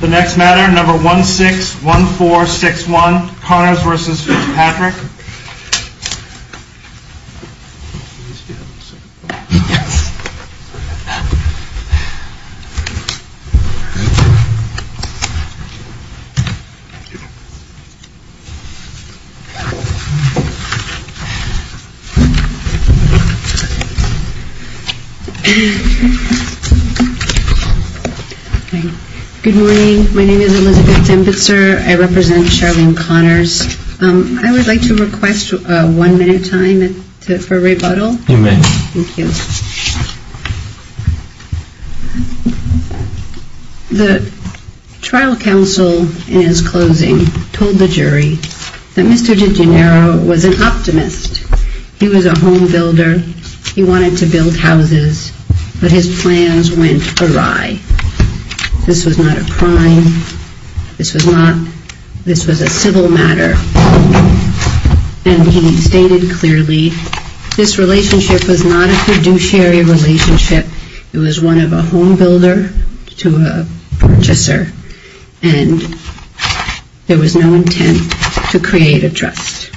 The next matter, number 161461, Connors v. Fitzpatrick. Good morning. My name is Elizabeth Tempitzer. I represent Charlene Connors. I would like to request one minute time for rebuttal. You may. Thank you. The trial counsel in his closing told the jury that Mr. DiGennaro was an optimist. He was a home builder. He wanted to build houses, but his plans went awry. This was not a crime. This was a civil matter. And he stated clearly, this relationship was not a fiduciary relationship. It was one of a home builder to a purchaser, and there was no intent to create a trust.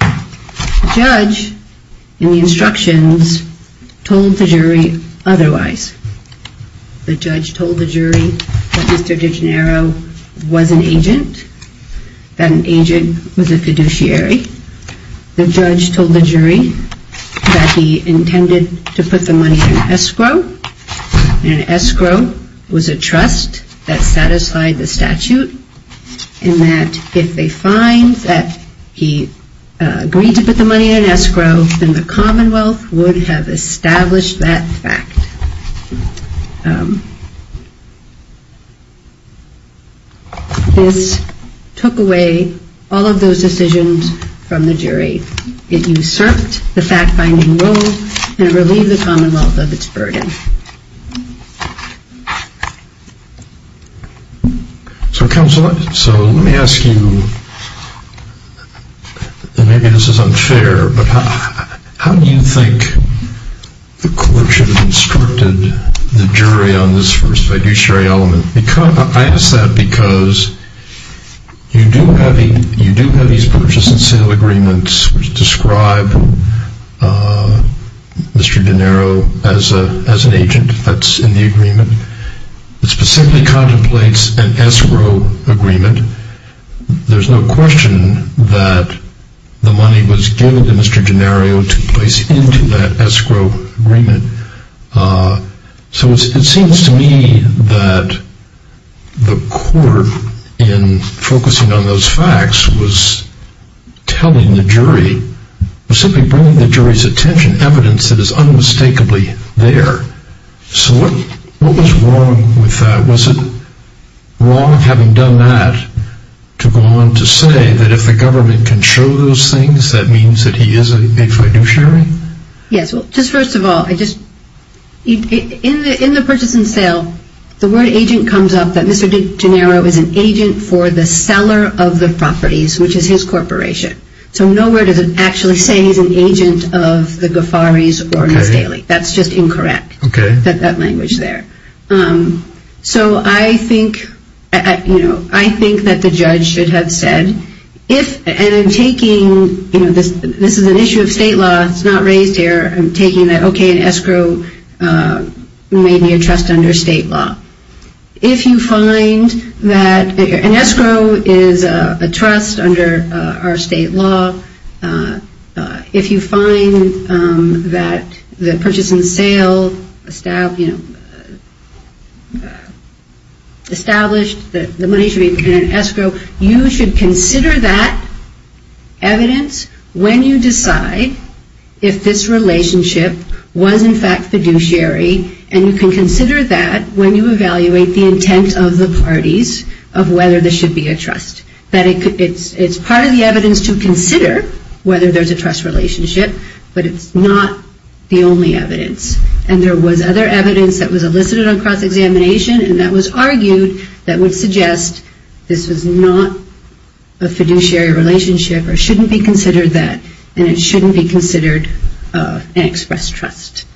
The judge in the instructions told the jury otherwise. The judge told the jury that Mr. DiGennaro was an agent, that an agent was a fiduciary. The judge told the jury that he intended to put the money in escrow, and escrow was a trust that satisfied the statute, and that if they find that he agreed to put the money in escrow, then the Commonwealth would have established that fact. This took away all of those decisions from the jury. It usurped the fact-finding role and relieved the Commonwealth of its burden. So counsel, let me ask you, and maybe this is unfair, but how do you think the court should have instructed the jury on this fiduciary element? I ask that because you do have these purchase and sale agreements which describe Mr. DiGennaro as an agent that's in the agreement. It specifically contemplates an escrow agreement. There's no question that the money was given to Mr. DiGennaro to place into that escrow agreement. So it seems to me that the court, in focusing on those facts, was simply bringing the jury's attention to evidence that is unmistakably there. So what was wrong with that? Was it wrong, having done that, to go on to say that if the government can show those things, that means that he is a fiduciary? Yes, well, just first of all, in the purchase and sale, the word agent comes up that Mr. DiGennaro is an agent for the seller of the properties, which is his corporation. So nowhere does it actually say he's an agent of the Guafaris or Miss Daly. That's just incorrect, that language there. So I think that the judge should have said, and I'm taking, this is an issue of state law, it's not raised here, I'm taking that, okay, an escrow may be a trust under state law. If you find that an escrow is a trust under our state law, if you find that the purchase and sale established, that the money should be in an escrow, you should consider that evidence when you decide if this relationship was in fact fiduciary, and you can consider that when you evaluate the intent of the parties of whether this should be a trust. It's part of the evidence to consider whether there's a trust relationship, but it's not the only evidence. And there was other evidence that was elicited on cross-examination, and that was argued that would suggest this was not a fiduciary relationship or shouldn't be considered that, and it shouldn't be considered an expressed trust.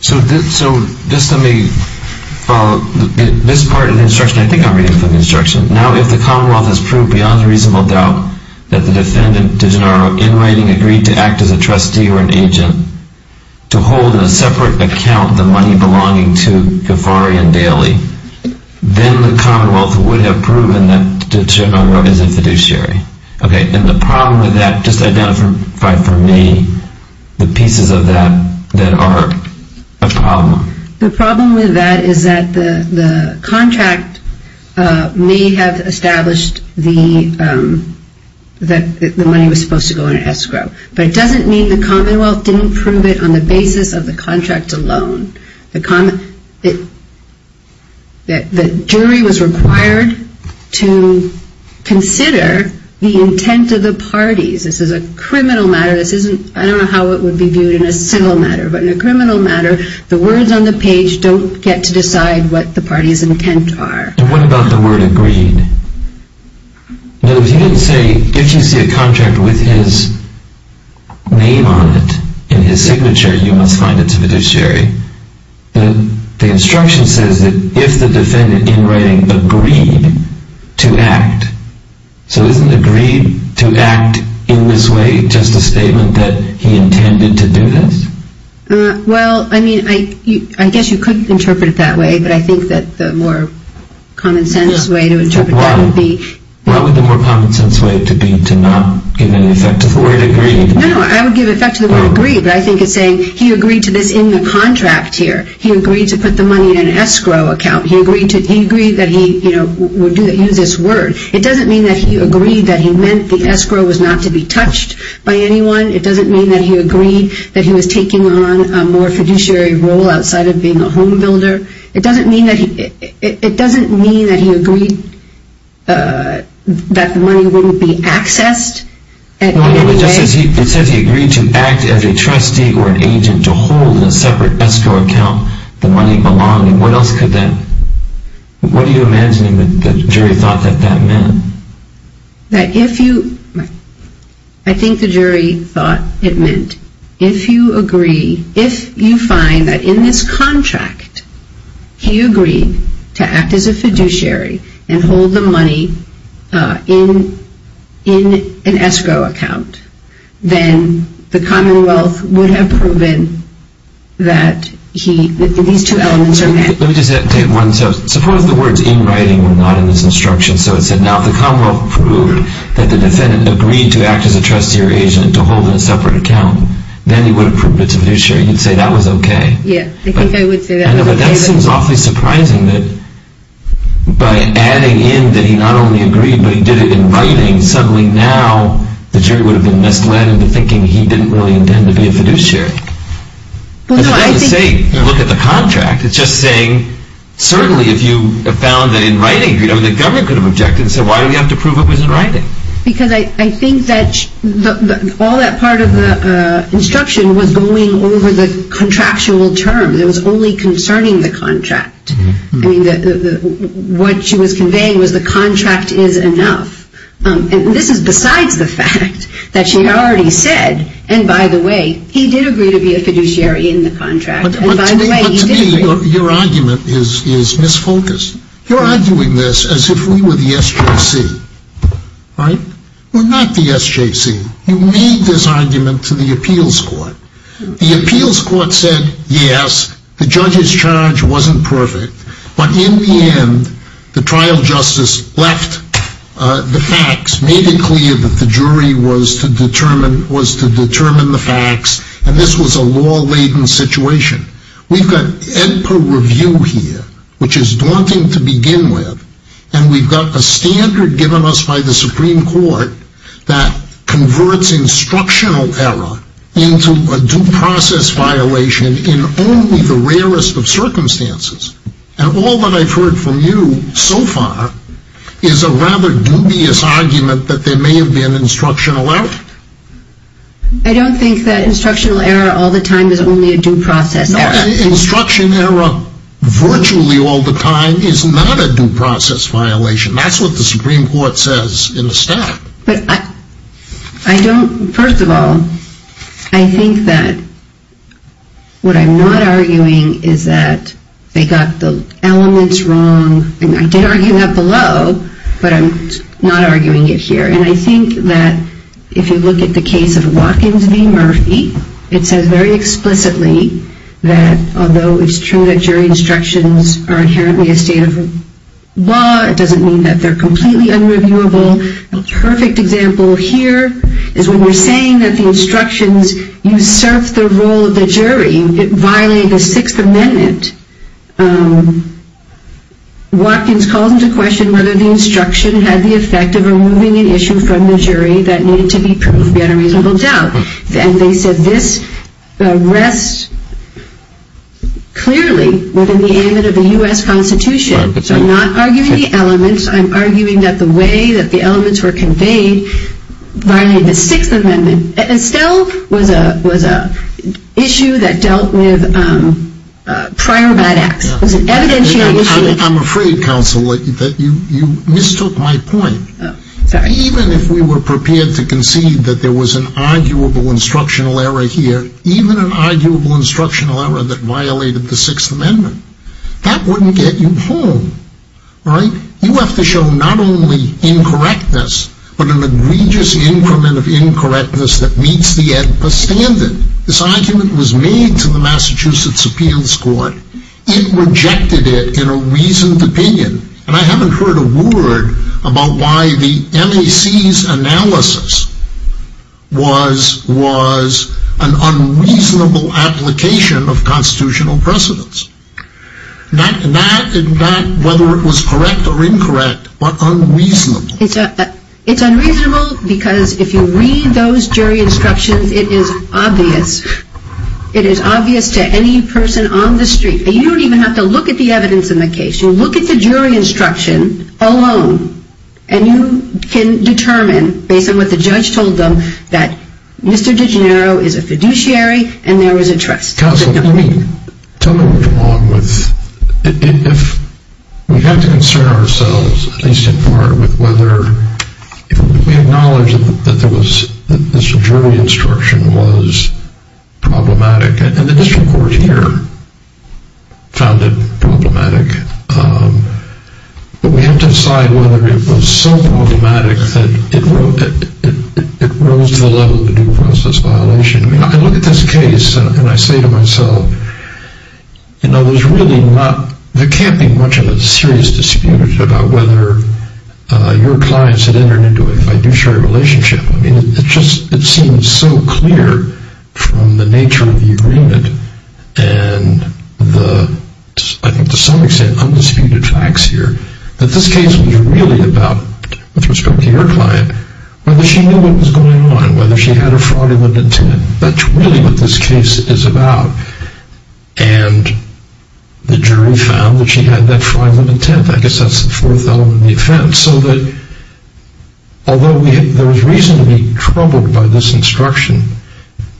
So just let me follow. This part of the instruction, I think I'm reading from the instruction. Now, if the Commonwealth has proved beyond reasonable doubt that the defendant, DiGennaro, in writing, agreed to act as a trustee or an agent, to hold in a separate account the money belonging to Ghaffari and Daley, then the Commonwealth would have proven that DiGennaro is a fiduciary. And the problem with that, just identify for me the pieces of that that are a problem. The problem with that is that the contract may have established that the money was supposed to go in an escrow, but it doesn't mean the Commonwealth didn't prove it on the basis of the contract alone. The jury was required to consider the intent of the parties. This is a criminal matter. I don't know how it would be viewed in a civil matter, but in a criminal matter, the words on the page don't get to decide what the party's intent are. And what about the word agreed? Now, if you didn't say, if you see a contract with his name on it, and his signature, you must find it's a fiduciary. The instruction says that if the defendant, in writing, agreed to act. So isn't agreed to act in this way just a statement that he intended to do this? Well, I mean, I guess you could interpret it that way, but I think that the more common sense way to interpret that would be... What would the more common sense way to be to not give any effect to the word agreed? No, no, I would give effect to the word agreed, but I think it's saying he agreed to this in the contract here. He agreed to put the money in an escrow account. He agreed that he would use this word. It doesn't mean that he agreed that he meant the escrow was not to be touched by anyone. It doesn't mean that he agreed that he was taking on a more fiduciary role outside of being a home builder. It doesn't mean that he agreed that the money wouldn't be accessed in any way. It says he agreed to act as a trustee or an agent to hold in a separate escrow account the money belonging. What else could that... What are you imagining the jury thought that that meant? That if you... I think the jury thought it meant if you agree, if you find that in this contract he agreed to act as a fiduciary and hold the money in an escrow account, then the Commonwealth would have proven that these two elements are met. Let me just take one step. Suppose the words in writing were not in this instruction, so it said now if the Commonwealth proved that the defendant agreed to act as a trustee or agent to hold in a separate account, then he would have proved it's a fiduciary. You'd say that was okay. Yeah, I think I would say that was okay. But that seems awfully surprising that by adding in that he not only agreed, but he did it in writing, suddenly now the jury would have been misled into thinking he didn't really intend to be a fiduciary. It doesn't say look at the contract. It's just saying certainly if you found that in writing, the government could have objected and said, why do we have to prove it was in writing? Because I think that all that part of the instruction was going over the contractual terms. It was only concerning the contract. What she was conveying was the contract is enough. This is besides the fact that she already said, and by the way, he did agree to be a fiduciary in the contract. But to me your argument is misfocused. You're arguing this as if we were the SJC, right? We're not the SJC. You made this argument to the appeals court. The appeals court said yes, the judge's charge wasn't perfect, but in the end the trial justice left the facts, made it clear that the jury was to determine the facts, and this was a law-laden situation. We've got Edper review here, which is daunting to begin with, and we've got a standard given us by the Supreme Court that converts instructional error into a due process violation in only the rarest of circumstances. And all that I've heard from you so far is a rather dubious argument that there may have been instructional error. I don't think that instructional error all the time is only a due process error. Instruction error virtually all the time is not a due process violation. That's what the Supreme Court says in the statute. But I don't, first of all, I think that what I'm not arguing is that they got the elements wrong, and I did argue that below, but I'm not arguing it here. And I think that if you look at the case of Watkins v. Murphy, it says very explicitly that although it's true that jury instructions are inherently a state of law, it doesn't mean that they're completely unreviewable. The perfect example here is when we're saying that the instructions usurped the role of the jury, it violated the Sixth Amendment. Watkins calls into question whether the instruction had the effect of removing an issue from the jury that needed to be proved beyond a reasonable doubt. And they said this rests clearly within the amendment of the U.S. Constitution. So I'm not arguing the elements. I'm arguing that the way that the elements were conveyed violated the Sixth Amendment. And still was an issue that dealt with prior bad acts. It was an evidentiary issue. I'm afraid, counsel, that you mistook my point. Sorry. Even if we were prepared to concede that there was an arguable instructional error here, even an arguable instructional error that violated the Sixth Amendment, that wouldn't get you home, right? You have to show not only incorrectness, but an egregious increment of incorrectness that meets the EDPA standard. This argument was made to the Massachusetts Appeals Court. It rejected it in a reasoned opinion. And I haven't heard a word about why the MAC's analysis was an unreasonable application of constitutional precedence. Not whether it was correct or incorrect, but unreasonable. It's unreasonable because if you read those jury instructions, it is obvious. It is obvious to any person on the street. You don't even have to look at the evidence in the case. You look at the jury instruction alone, and you can determine, based on what the judge told them, that Mr. DiGennaro is a fiduciary and there is a trust. Counsel, tell me what's wrong with... We have to concern ourselves, at least in part, with whether... We acknowledge that this jury instruction was problematic, and the district court here found it problematic. But we have to decide whether it was so problematic that it rose to the level of a due process violation. I look at this case, and I say to myself, you know, there's really not... There can't be much of a serious dispute about whether your clients had entered into a fiduciary relationship. I mean, it seems so clear from the nature of the agreement and the, I think to some extent, undisputed facts here, that this case was really about, with respect to your client, whether she knew what was going on, whether she had a fraudulent intent. That's really what this case is about. And the jury found that she had that fraudulent intent. I guess that's the fourth element of the offense. So that, although there was reason to be troubled by this instruction,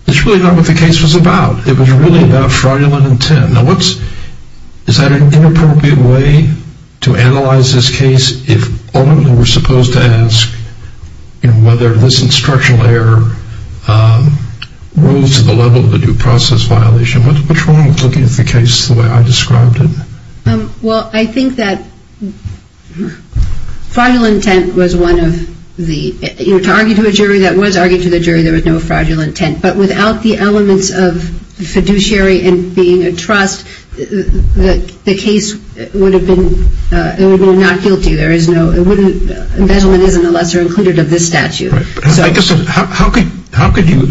it's really not what the case was about. It was really about fraudulent intent. Now what's... Is that an inappropriate way to analyze this case, if only we were supposed to ask whether this instructional error rose to the level of a due process violation? What's wrong with looking at the case the way I described it? Well, I think that fraudulent intent was one of the... You know, to argue to a jury that was arguing to the jury, there was no fraudulent intent. But without the elements of fiduciary and being a trust, the case would have been... It would have been not guilty. There is no... It wouldn't... A judgment isn't a lesser included of this statute. So... How could you...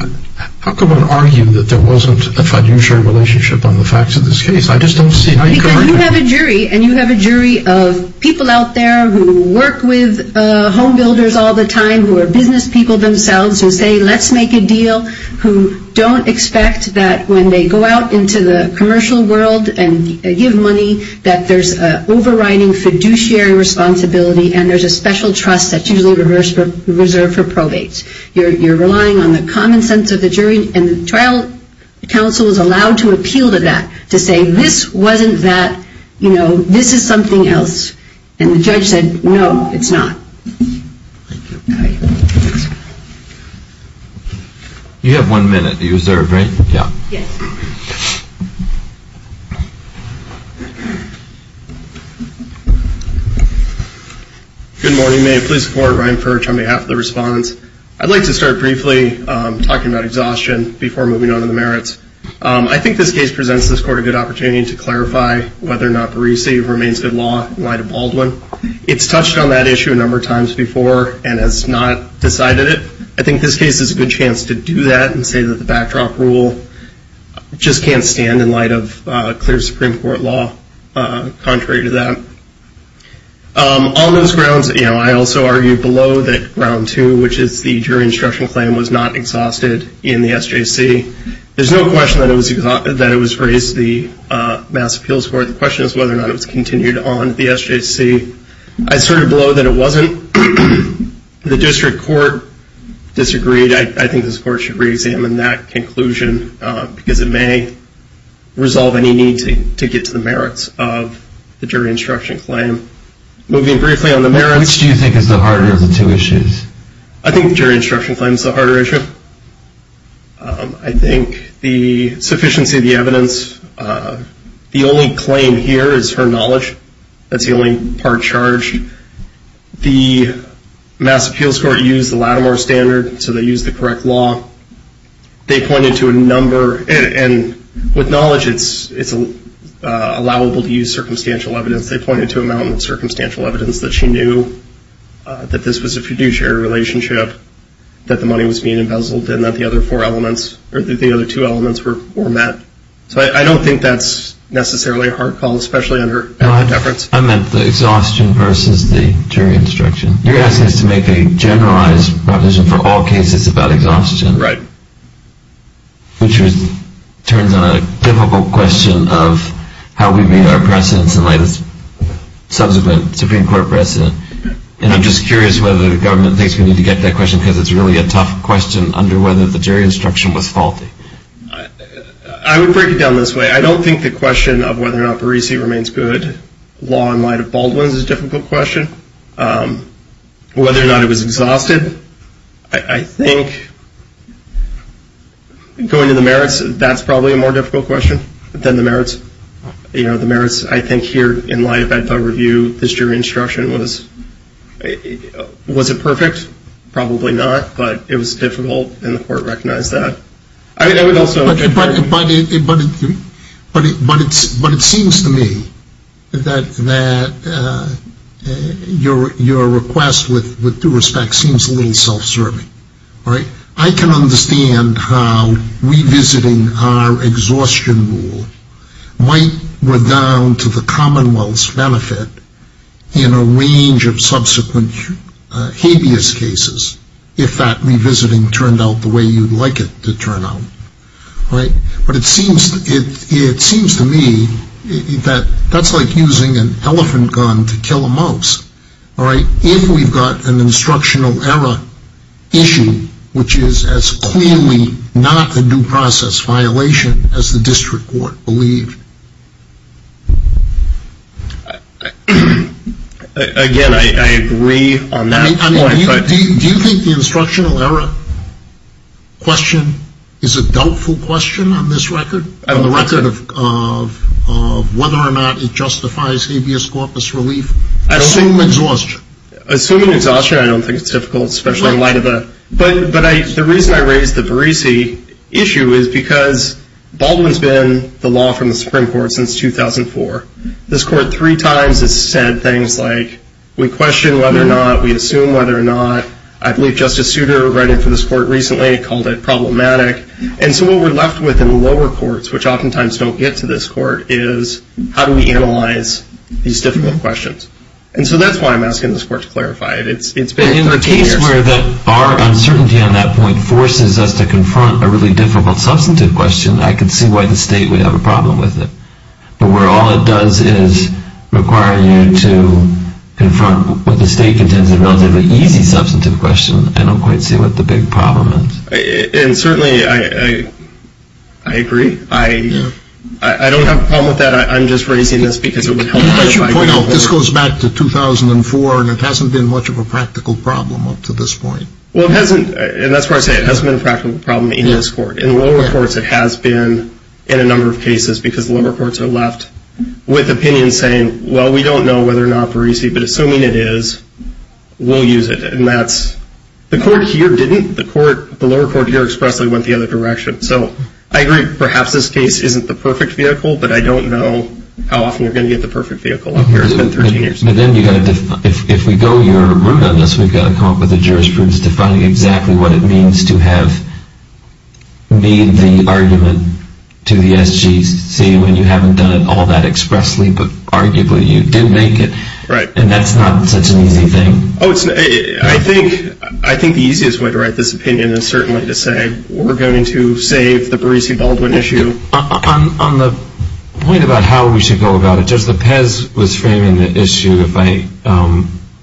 How could one argue that there wasn't a fiduciary relationship on the facts of this case? I just don't see how you could... Because you have a jury, and you have a jury of people out there who work with home builders all the time, who are business people themselves, who say, let's make a deal, who don't expect that when they go out into the commercial world and give money, that there's an overriding fiduciary responsibility, and there's a special trust that's usually reserved for probates. You're relying on the common sense of the jury, and the trial counsel is allowed to appeal to that, to say, this wasn't that. You know, this is something else. And the judge said, no, it's not. Thank you. You have one minute to reserve, right? Yeah. Yes. Good morning. May I please support Ryan Furch on behalf of the respondents? I'd like to start briefly talking about exhaustion before moving on to the merits. I think this case presents this court a good opportunity to clarify whether or not the resave remains good law in light of Baldwin. It's touched on that issue a number of times before and has not decided it. I think this case is a good chance to do that and say that the backdrop rule just can't stand in light of clear Supreme Court law contrary to that. On those grounds, you know, I also argue below that round two, which is the jury instruction claim, was not exhausted in the SJC. There's no question that it was raised to the Mass Appeals Court. The question is whether or not it was continued on the SJC. I asserted below that it wasn't. The district court disagreed. I think this court should reexamine that conclusion because it may resolve any need to get to the merits of the jury instruction claim. Moving briefly on the merits. Which do you think is the harder of the two issues? I think the jury instruction claim is the harder issue. I think the sufficiency of the evidence, the only claim here is her knowledge. That's the only part charged. The Mass Appeals Court used the Lattimore standard, so they used the correct law. They pointed to a number, and with knowledge it's allowable to use circumstantial evidence. They pointed to a mountain of circumstantial evidence that she knew that this was a fiduciary relationship, that the money was being embezzled, and that the other two elements were met. So I don't think that's necessarily a hard call, especially under efforts. I meant the exhaustion versus the jury instruction. You're asking us to make a generalized proposition for all cases about exhaustion. Right. Which turns on a difficult question of how we made our precedents in light of subsequent Supreme Court precedent. And I'm just curious whether the government thinks we need to get to that question because it's really a tough question under whether the jury instruction was faulty. I would break it down this way. I don't think the question of whether or not Barisi remains good law in light of Baldwin is a difficult question. Whether or not it was exhausted, I think going to the merits, that's probably a more difficult question than the merits. You know, the merits, I think here in light of that review, this jury instruction was, was it perfect? Probably not, but it was difficult and the court recognized that. But it seems to me that your request with due respect seems a little self-serving. I can understand how revisiting our exhaustion rule might go down to the commonwealth's benefit in a range of subsequent habeas cases if that revisiting turned out the way you'd like it to turn out. But it seems to me that that's like using an elephant gun to kill a mouse. All right, if we've got an instructional error issue, which is as clearly not a due process violation as the district court believed. Again, I agree on that point. Do you think the instructional error question is a doubtful question on this record? On the record of whether or not it justifies habeas corpus relief? Assuming exhaustion. Assuming exhaustion, I don't think it's difficult, especially in light of that. But the reason I raised the Barisi issue is because Baldwin's been the law from the Supreme Court since 2004. This court three times has said things like, we question whether or not, we assume whether or not. I believe Justice Souter wrote in for this court recently, called it problematic. And so what we're left with in lower courts, which oftentimes don't get to this court, is how do we analyze these difficult questions? And so that's why I'm asking this court to clarify it. It's been 13 years. In a case where our uncertainty on that point forces us to confront a really difficult substantive question, I could see why the state would have a problem with it. But where all it does is require you to confront what the state contends is a relatively easy substantive question, I don't quite see what the big problem is. And certainly I agree. I don't have a problem with that. I'm just raising this because it would help if I could. If I should point out, this goes back to 2004, and it hasn't been much of a practical problem up to this point. Well, it hasn't, and that's why I say it hasn't been a practical problem in this court. In lower courts it has been in a number of cases because lower courts are left with opinions saying, well, we don't know whether or not Barisi, but assuming it is, we'll use it. And that's, the court here didn't. The lower court here expressly went the other direction. So I agree, perhaps this case isn't the perfect vehicle, but I don't know how often you're going to get the perfect vehicle up here. It's been 13 years. But then you've got to define, if we go your route on this, we've got to come up with a jurisprudence defining exactly what it means to have made the argument to the SGC when you haven't done it all that expressly, but arguably you did make it. Right. And that's not such an easy thing. I think the easiest way to write this opinion is certainly to say, we're going to save the Barisi-Baldwin issue. On the point about how we should go about it, Judge Lepez was framing the issue, if I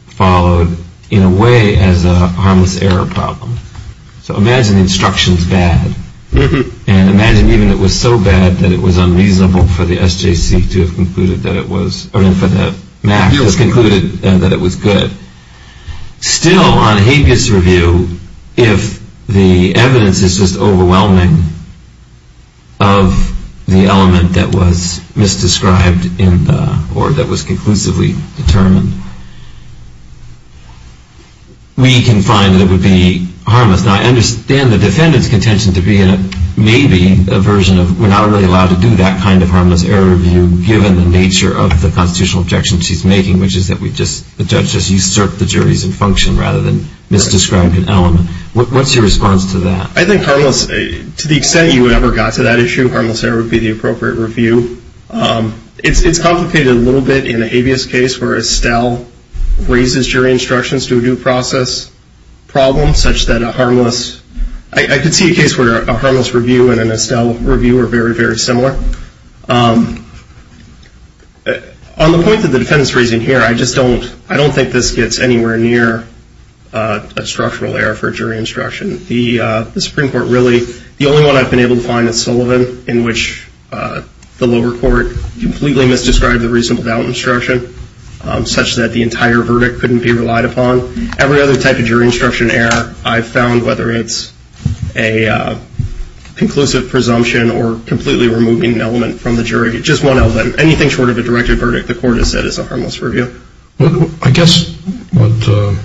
followed, in a way as a harmless error problem. So imagine the instruction's bad. And imagine even it was so bad that it was unreasonable for the SJC to have concluded that it was, or for the MAC to have concluded that it was good. Still, on habeas review, if the evidence is just overwhelming of the element that was misdescribed in the, or that was conclusively determined, we can find that it would be harmless. Now I understand the defendant's contention to be in a, maybe, a version of, we're not really allowed to do that kind of harmless error review, given the nature of the constitutional objection she's making, which is that we just, the judge just usurped the jury's infunction rather than misdescribed an element. What's your response to that? I think harmless, to the extent you ever got to that issue, harmless error would be the appropriate review. It's complicated a little bit in a habeas case where Estelle raises jury instructions to a due process problem, such that a harmless, I could see a case where a harmless review and an Estelle review are very, very similar. On the point that the defendant's raising here, I just don't, I don't think this gets anywhere near a structural error for jury instruction. The Supreme Court really, the only one I've been able to find is Sullivan, in which the lower court completely misdescribed the reasonable doubt instruction, such that the entire verdict couldn't be relied upon. So every other type of jury instruction error I've found, whether it's a conclusive presumption or completely removing an element from the jury, just one element, anything short of a directed verdict, the court has said is a harmless review. I guess what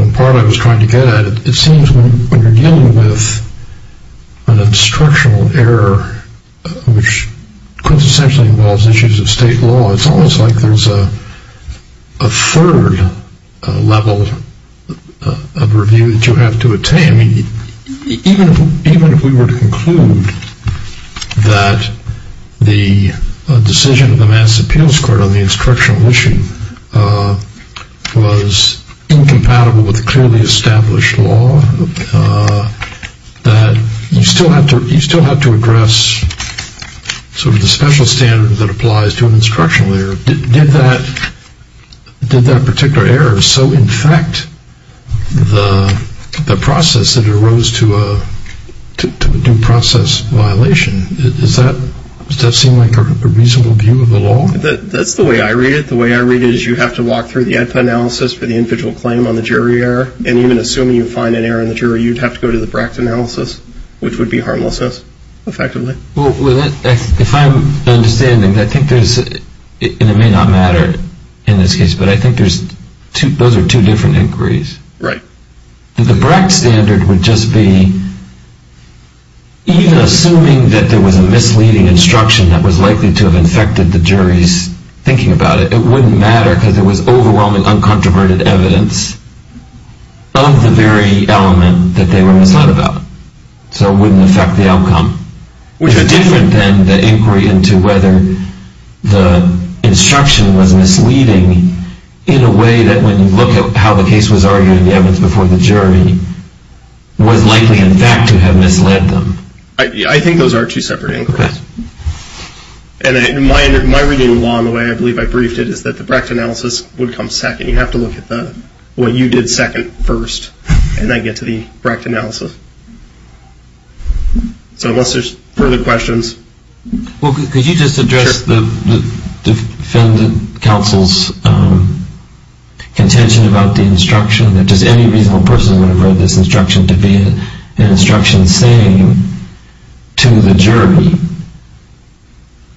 in part I was trying to get at, it seems when you're dealing with an instructional error, which quintessentially involves issues of state law, it's almost like there's a third level of review that you have to attain. Even if we were to conclude that the decision of the Mass Appeals Court on the instructional issue was incompatible with clearly established law, that you still have to address sort of the special standard that applies to an instructional error. Did that particular error so infect the process that it arose to a due process violation? Does that seem like a reasonable view of the law? That's the way I read it. The way I read it is you have to walk through the IPA analysis for the individual claim on the jury error, and even assuming you find an error in the jury, you'd have to go to the BRAC analysis, which would be harmlessness, effectively. If I'm understanding, I think there's, and it may not matter in this case, but I think those are two different inquiries. Right. The BRAC standard would just be, even assuming that there was a misleading instruction that was likely to have infected the jury's thinking about it, it wouldn't matter because there was overwhelming uncontroverted evidence of the very element that they were misled about. So it wouldn't affect the outcome. Which is different than the inquiry into whether the instruction was misleading in a way that when you look at how the case was argued in the evidence before the jury, was likely in fact to have misled them. I think those are two separate inquiries. And my reading along the way, I believe I briefed it, is that the BRAC analysis would come second. You'd have to look at what you did second first, and then get to the BRAC analysis. So unless there's further questions. Well, could you just address the defendant counsel's contention about the instruction, that just any reasonable person would have read this instruction to be an instruction saying to the jury,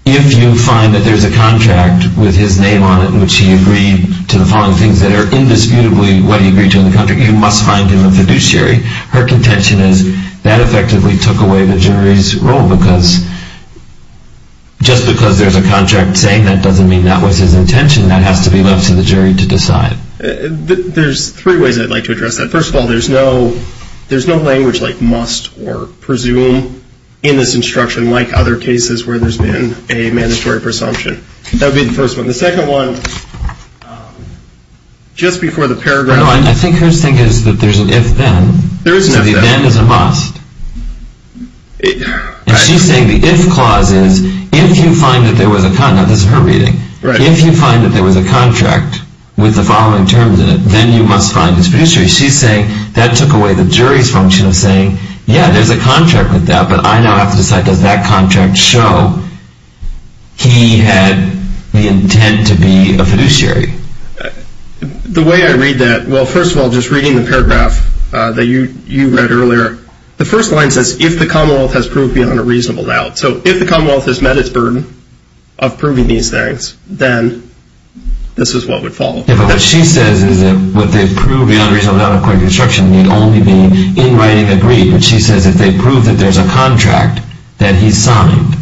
if you find that there's a contract with his name on it in which he agreed to the following things that are indisputably what he agreed to in the contract, you must find him a fiduciary. Her contention is that effectively took away the jury's role, because just because there's a contract saying that doesn't mean that was his intention. That has to be left to the jury to decide. There's three ways I'd like to address that. First of all, there's no language like must or presume in this instruction, like other cases where there's been a mandatory presumption. That would be the first one. The second one, just before the paragraph. No, I think her thing is that there's an if-then. There is an if-then. So the then is a must. And she's saying the if clause is, if you find that there was a, now this is her reading, if you find that there was a contract with the following terms in it, then you must find his fiduciary. She's saying that took away the jury's function of saying, yeah, there's a contract with that, but I now have to decide, does that contract show he had the intent to be a fiduciary? The way I read that, well, first of all, just reading the paragraph that you read earlier, the first line says, if the Commonwealth has proved beyond a reasonable doubt. So if the Commonwealth has met its burden of proving these things, then this is what would follow. Yeah, but what she says is that what they've proved beyond a reasonable doubt, according to the instruction, would only be in writing agreed, but she says if they prove that there's a contract that he signed.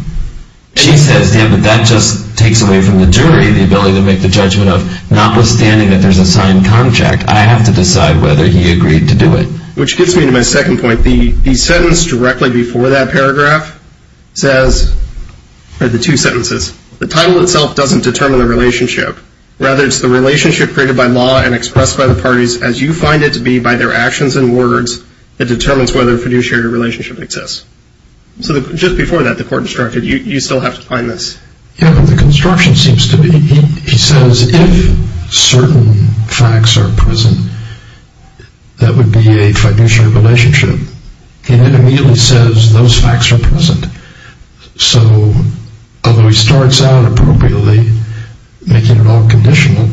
She says, yeah, but that just takes away from the jury the ability to make the judgment of, notwithstanding that there's a signed contract, I have to decide whether he agreed to do it. Which gets me to my second point. The sentence directly before that paragraph says, or the two sentences, the title itself doesn't determine the relationship. Rather, it's the relationship created by law and expressed by the parties as you find it to be by their actions and words that determines whether fiduciary relationship exists. So just before that, the court instructed, you still have to find this. Yeah, but the construction seems to be, he says, if certain facts are present, that would be a fiduciary relationship. He then immediately says those facts are present. So although he starts out appropriately, making it all conditional,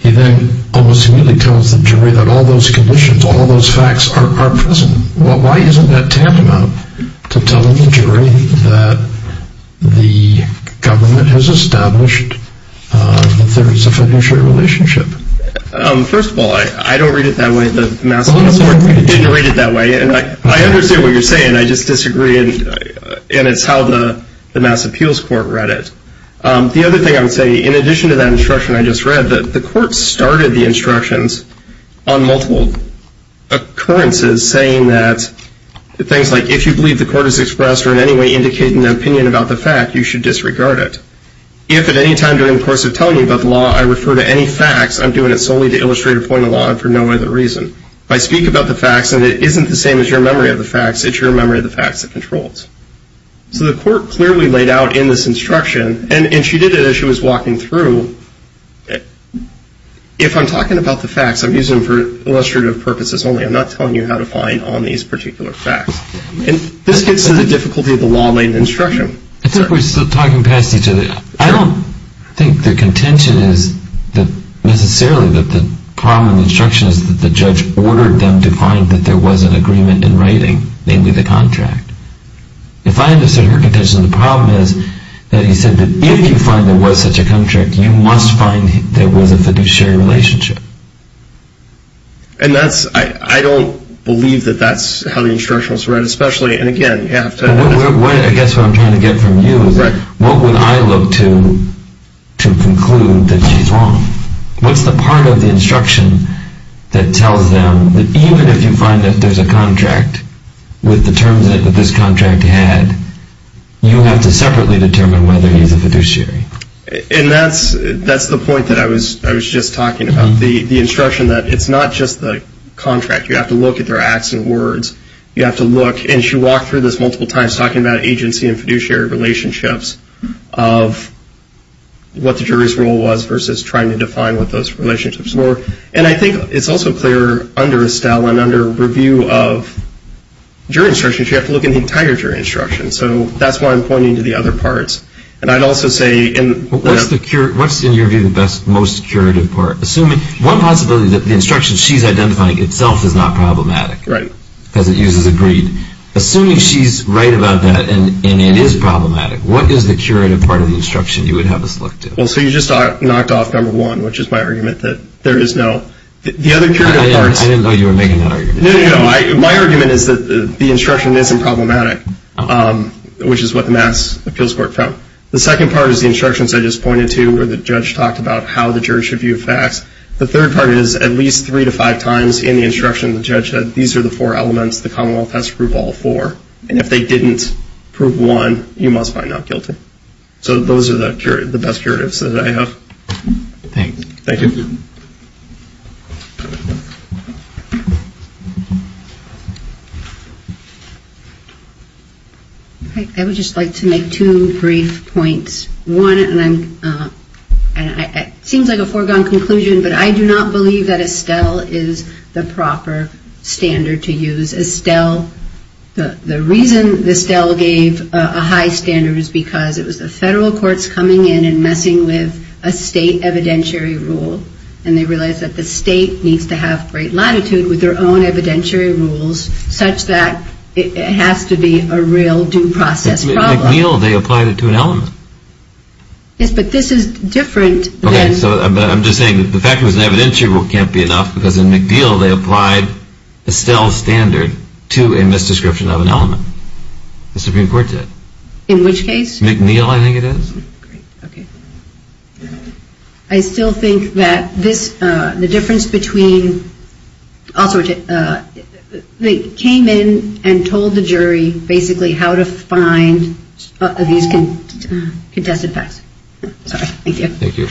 he then almost immediately tells the jury that all those conditions, all those facts are present. Why isn't that tantamount to telling the jury that the government has established that there is a fiduciary relationship? First of all, I don't read it that way. The Mass Appeals Court didn't read it that way. And I understand what you're saying. I just disagree, and it's how the Mass Appeals Court read it. The other thing I would say, in addition to that instruction I just read, the court started the instructions on multiple occurrences saying that things like, if you believe the court has expressed or in any way indicated an opinion about the fact, you should disregard it. If at any time during the course of telling you about the law I refer to any facts, I'm doing it solely to illustrate a point of law and for no other reason. If I speak about the facts and it isn't the same as your memory of the facts, it's your memory of the facts that controls. So the court clearly laid out in this instruction, and she did it as she was walking through, if I'm talking about the facts, I'm using them for illustrative purposes only. I'm not telling you how to find on these particular facts. And this gets to the difficulty of the law-laden instruction. I think we're still talking past each other. I don't think the contention is necessarily that the problem in the instruction is that the judge ordered them to find that there was an agreement in writing, namely the contract. If I understood her contention, the problem is that he said that if you find there was such a contract, you must find there was a fiduciary relationship. And I don't believe that that's how the instruction was read, especially, and again, you have to… I guess what I'm trying to get from you is what would I look to conclude that she's wrong? What's the part of the instruction that tells them that even if you find that there's a contract with the terms that this contract had, you have to separately determine whether he's a fiduciary? And that's the point that I was just talking about. The instruction that it's not just the contract. You have to look at their accent words. You have to look, and she walked through this multiple times, talking about agency and fiduciary relationships of what the jury's role was versus trying to define what those relationships were. And I think it's also clear under Estelle and under review of jury instructions, you have to look at the entire jury instruction. So that's why I'm pointing to the other parts. And I'd also say… What's, in your view, the most curative part? Assuming one possibility is that the instruction she's identifying itself is not problematic. Right. Because it uses agreed. Assuming she's right about that and it is problematic, what is the curative part of the instruction you would have us look to? Well, so you just knocked off number one, which is my argument that there is no… I didn't know you were making that argument. No, no, no. My argument is that the instruction isn't problematic, which is what the Mass Appeals Court found. The second part is the instructions I just pointed to where the judge talked about how the jury should view facts. The third part is at least three to five times in the instruction the judge said, these are the four elements the Commonwealth has to prove all four. And if they didn't prove one, you must find out guilty. So those are the best curatives that I have. Thanks. Thank you. I would just like to make two brief points. One, and it seems like a foregone conclusion, but I do not believe that Estelle is the proper standard to use. Estelle, the reason Estelle gave a high standard is because it was the federal courts coming in and messing with a state evidentiary rule, and they realized that the state needs to have great latitude with their own evidentiary rules such that it has to be a real due process problem. But in McNeil, they applied it to an element. Yes, but this is different. Okay, so I'm just saying the fact it was an evidentiary rule can't be enough because in McNeil they applied Estelle's standard to a misdescription of an element. The Supreme Court did. In which case? McNeil, I think it is. Okay. I still think that this, the difference between, they came in and told the jury basically how to find these contested facts. Sorry. Thank you. Thank you.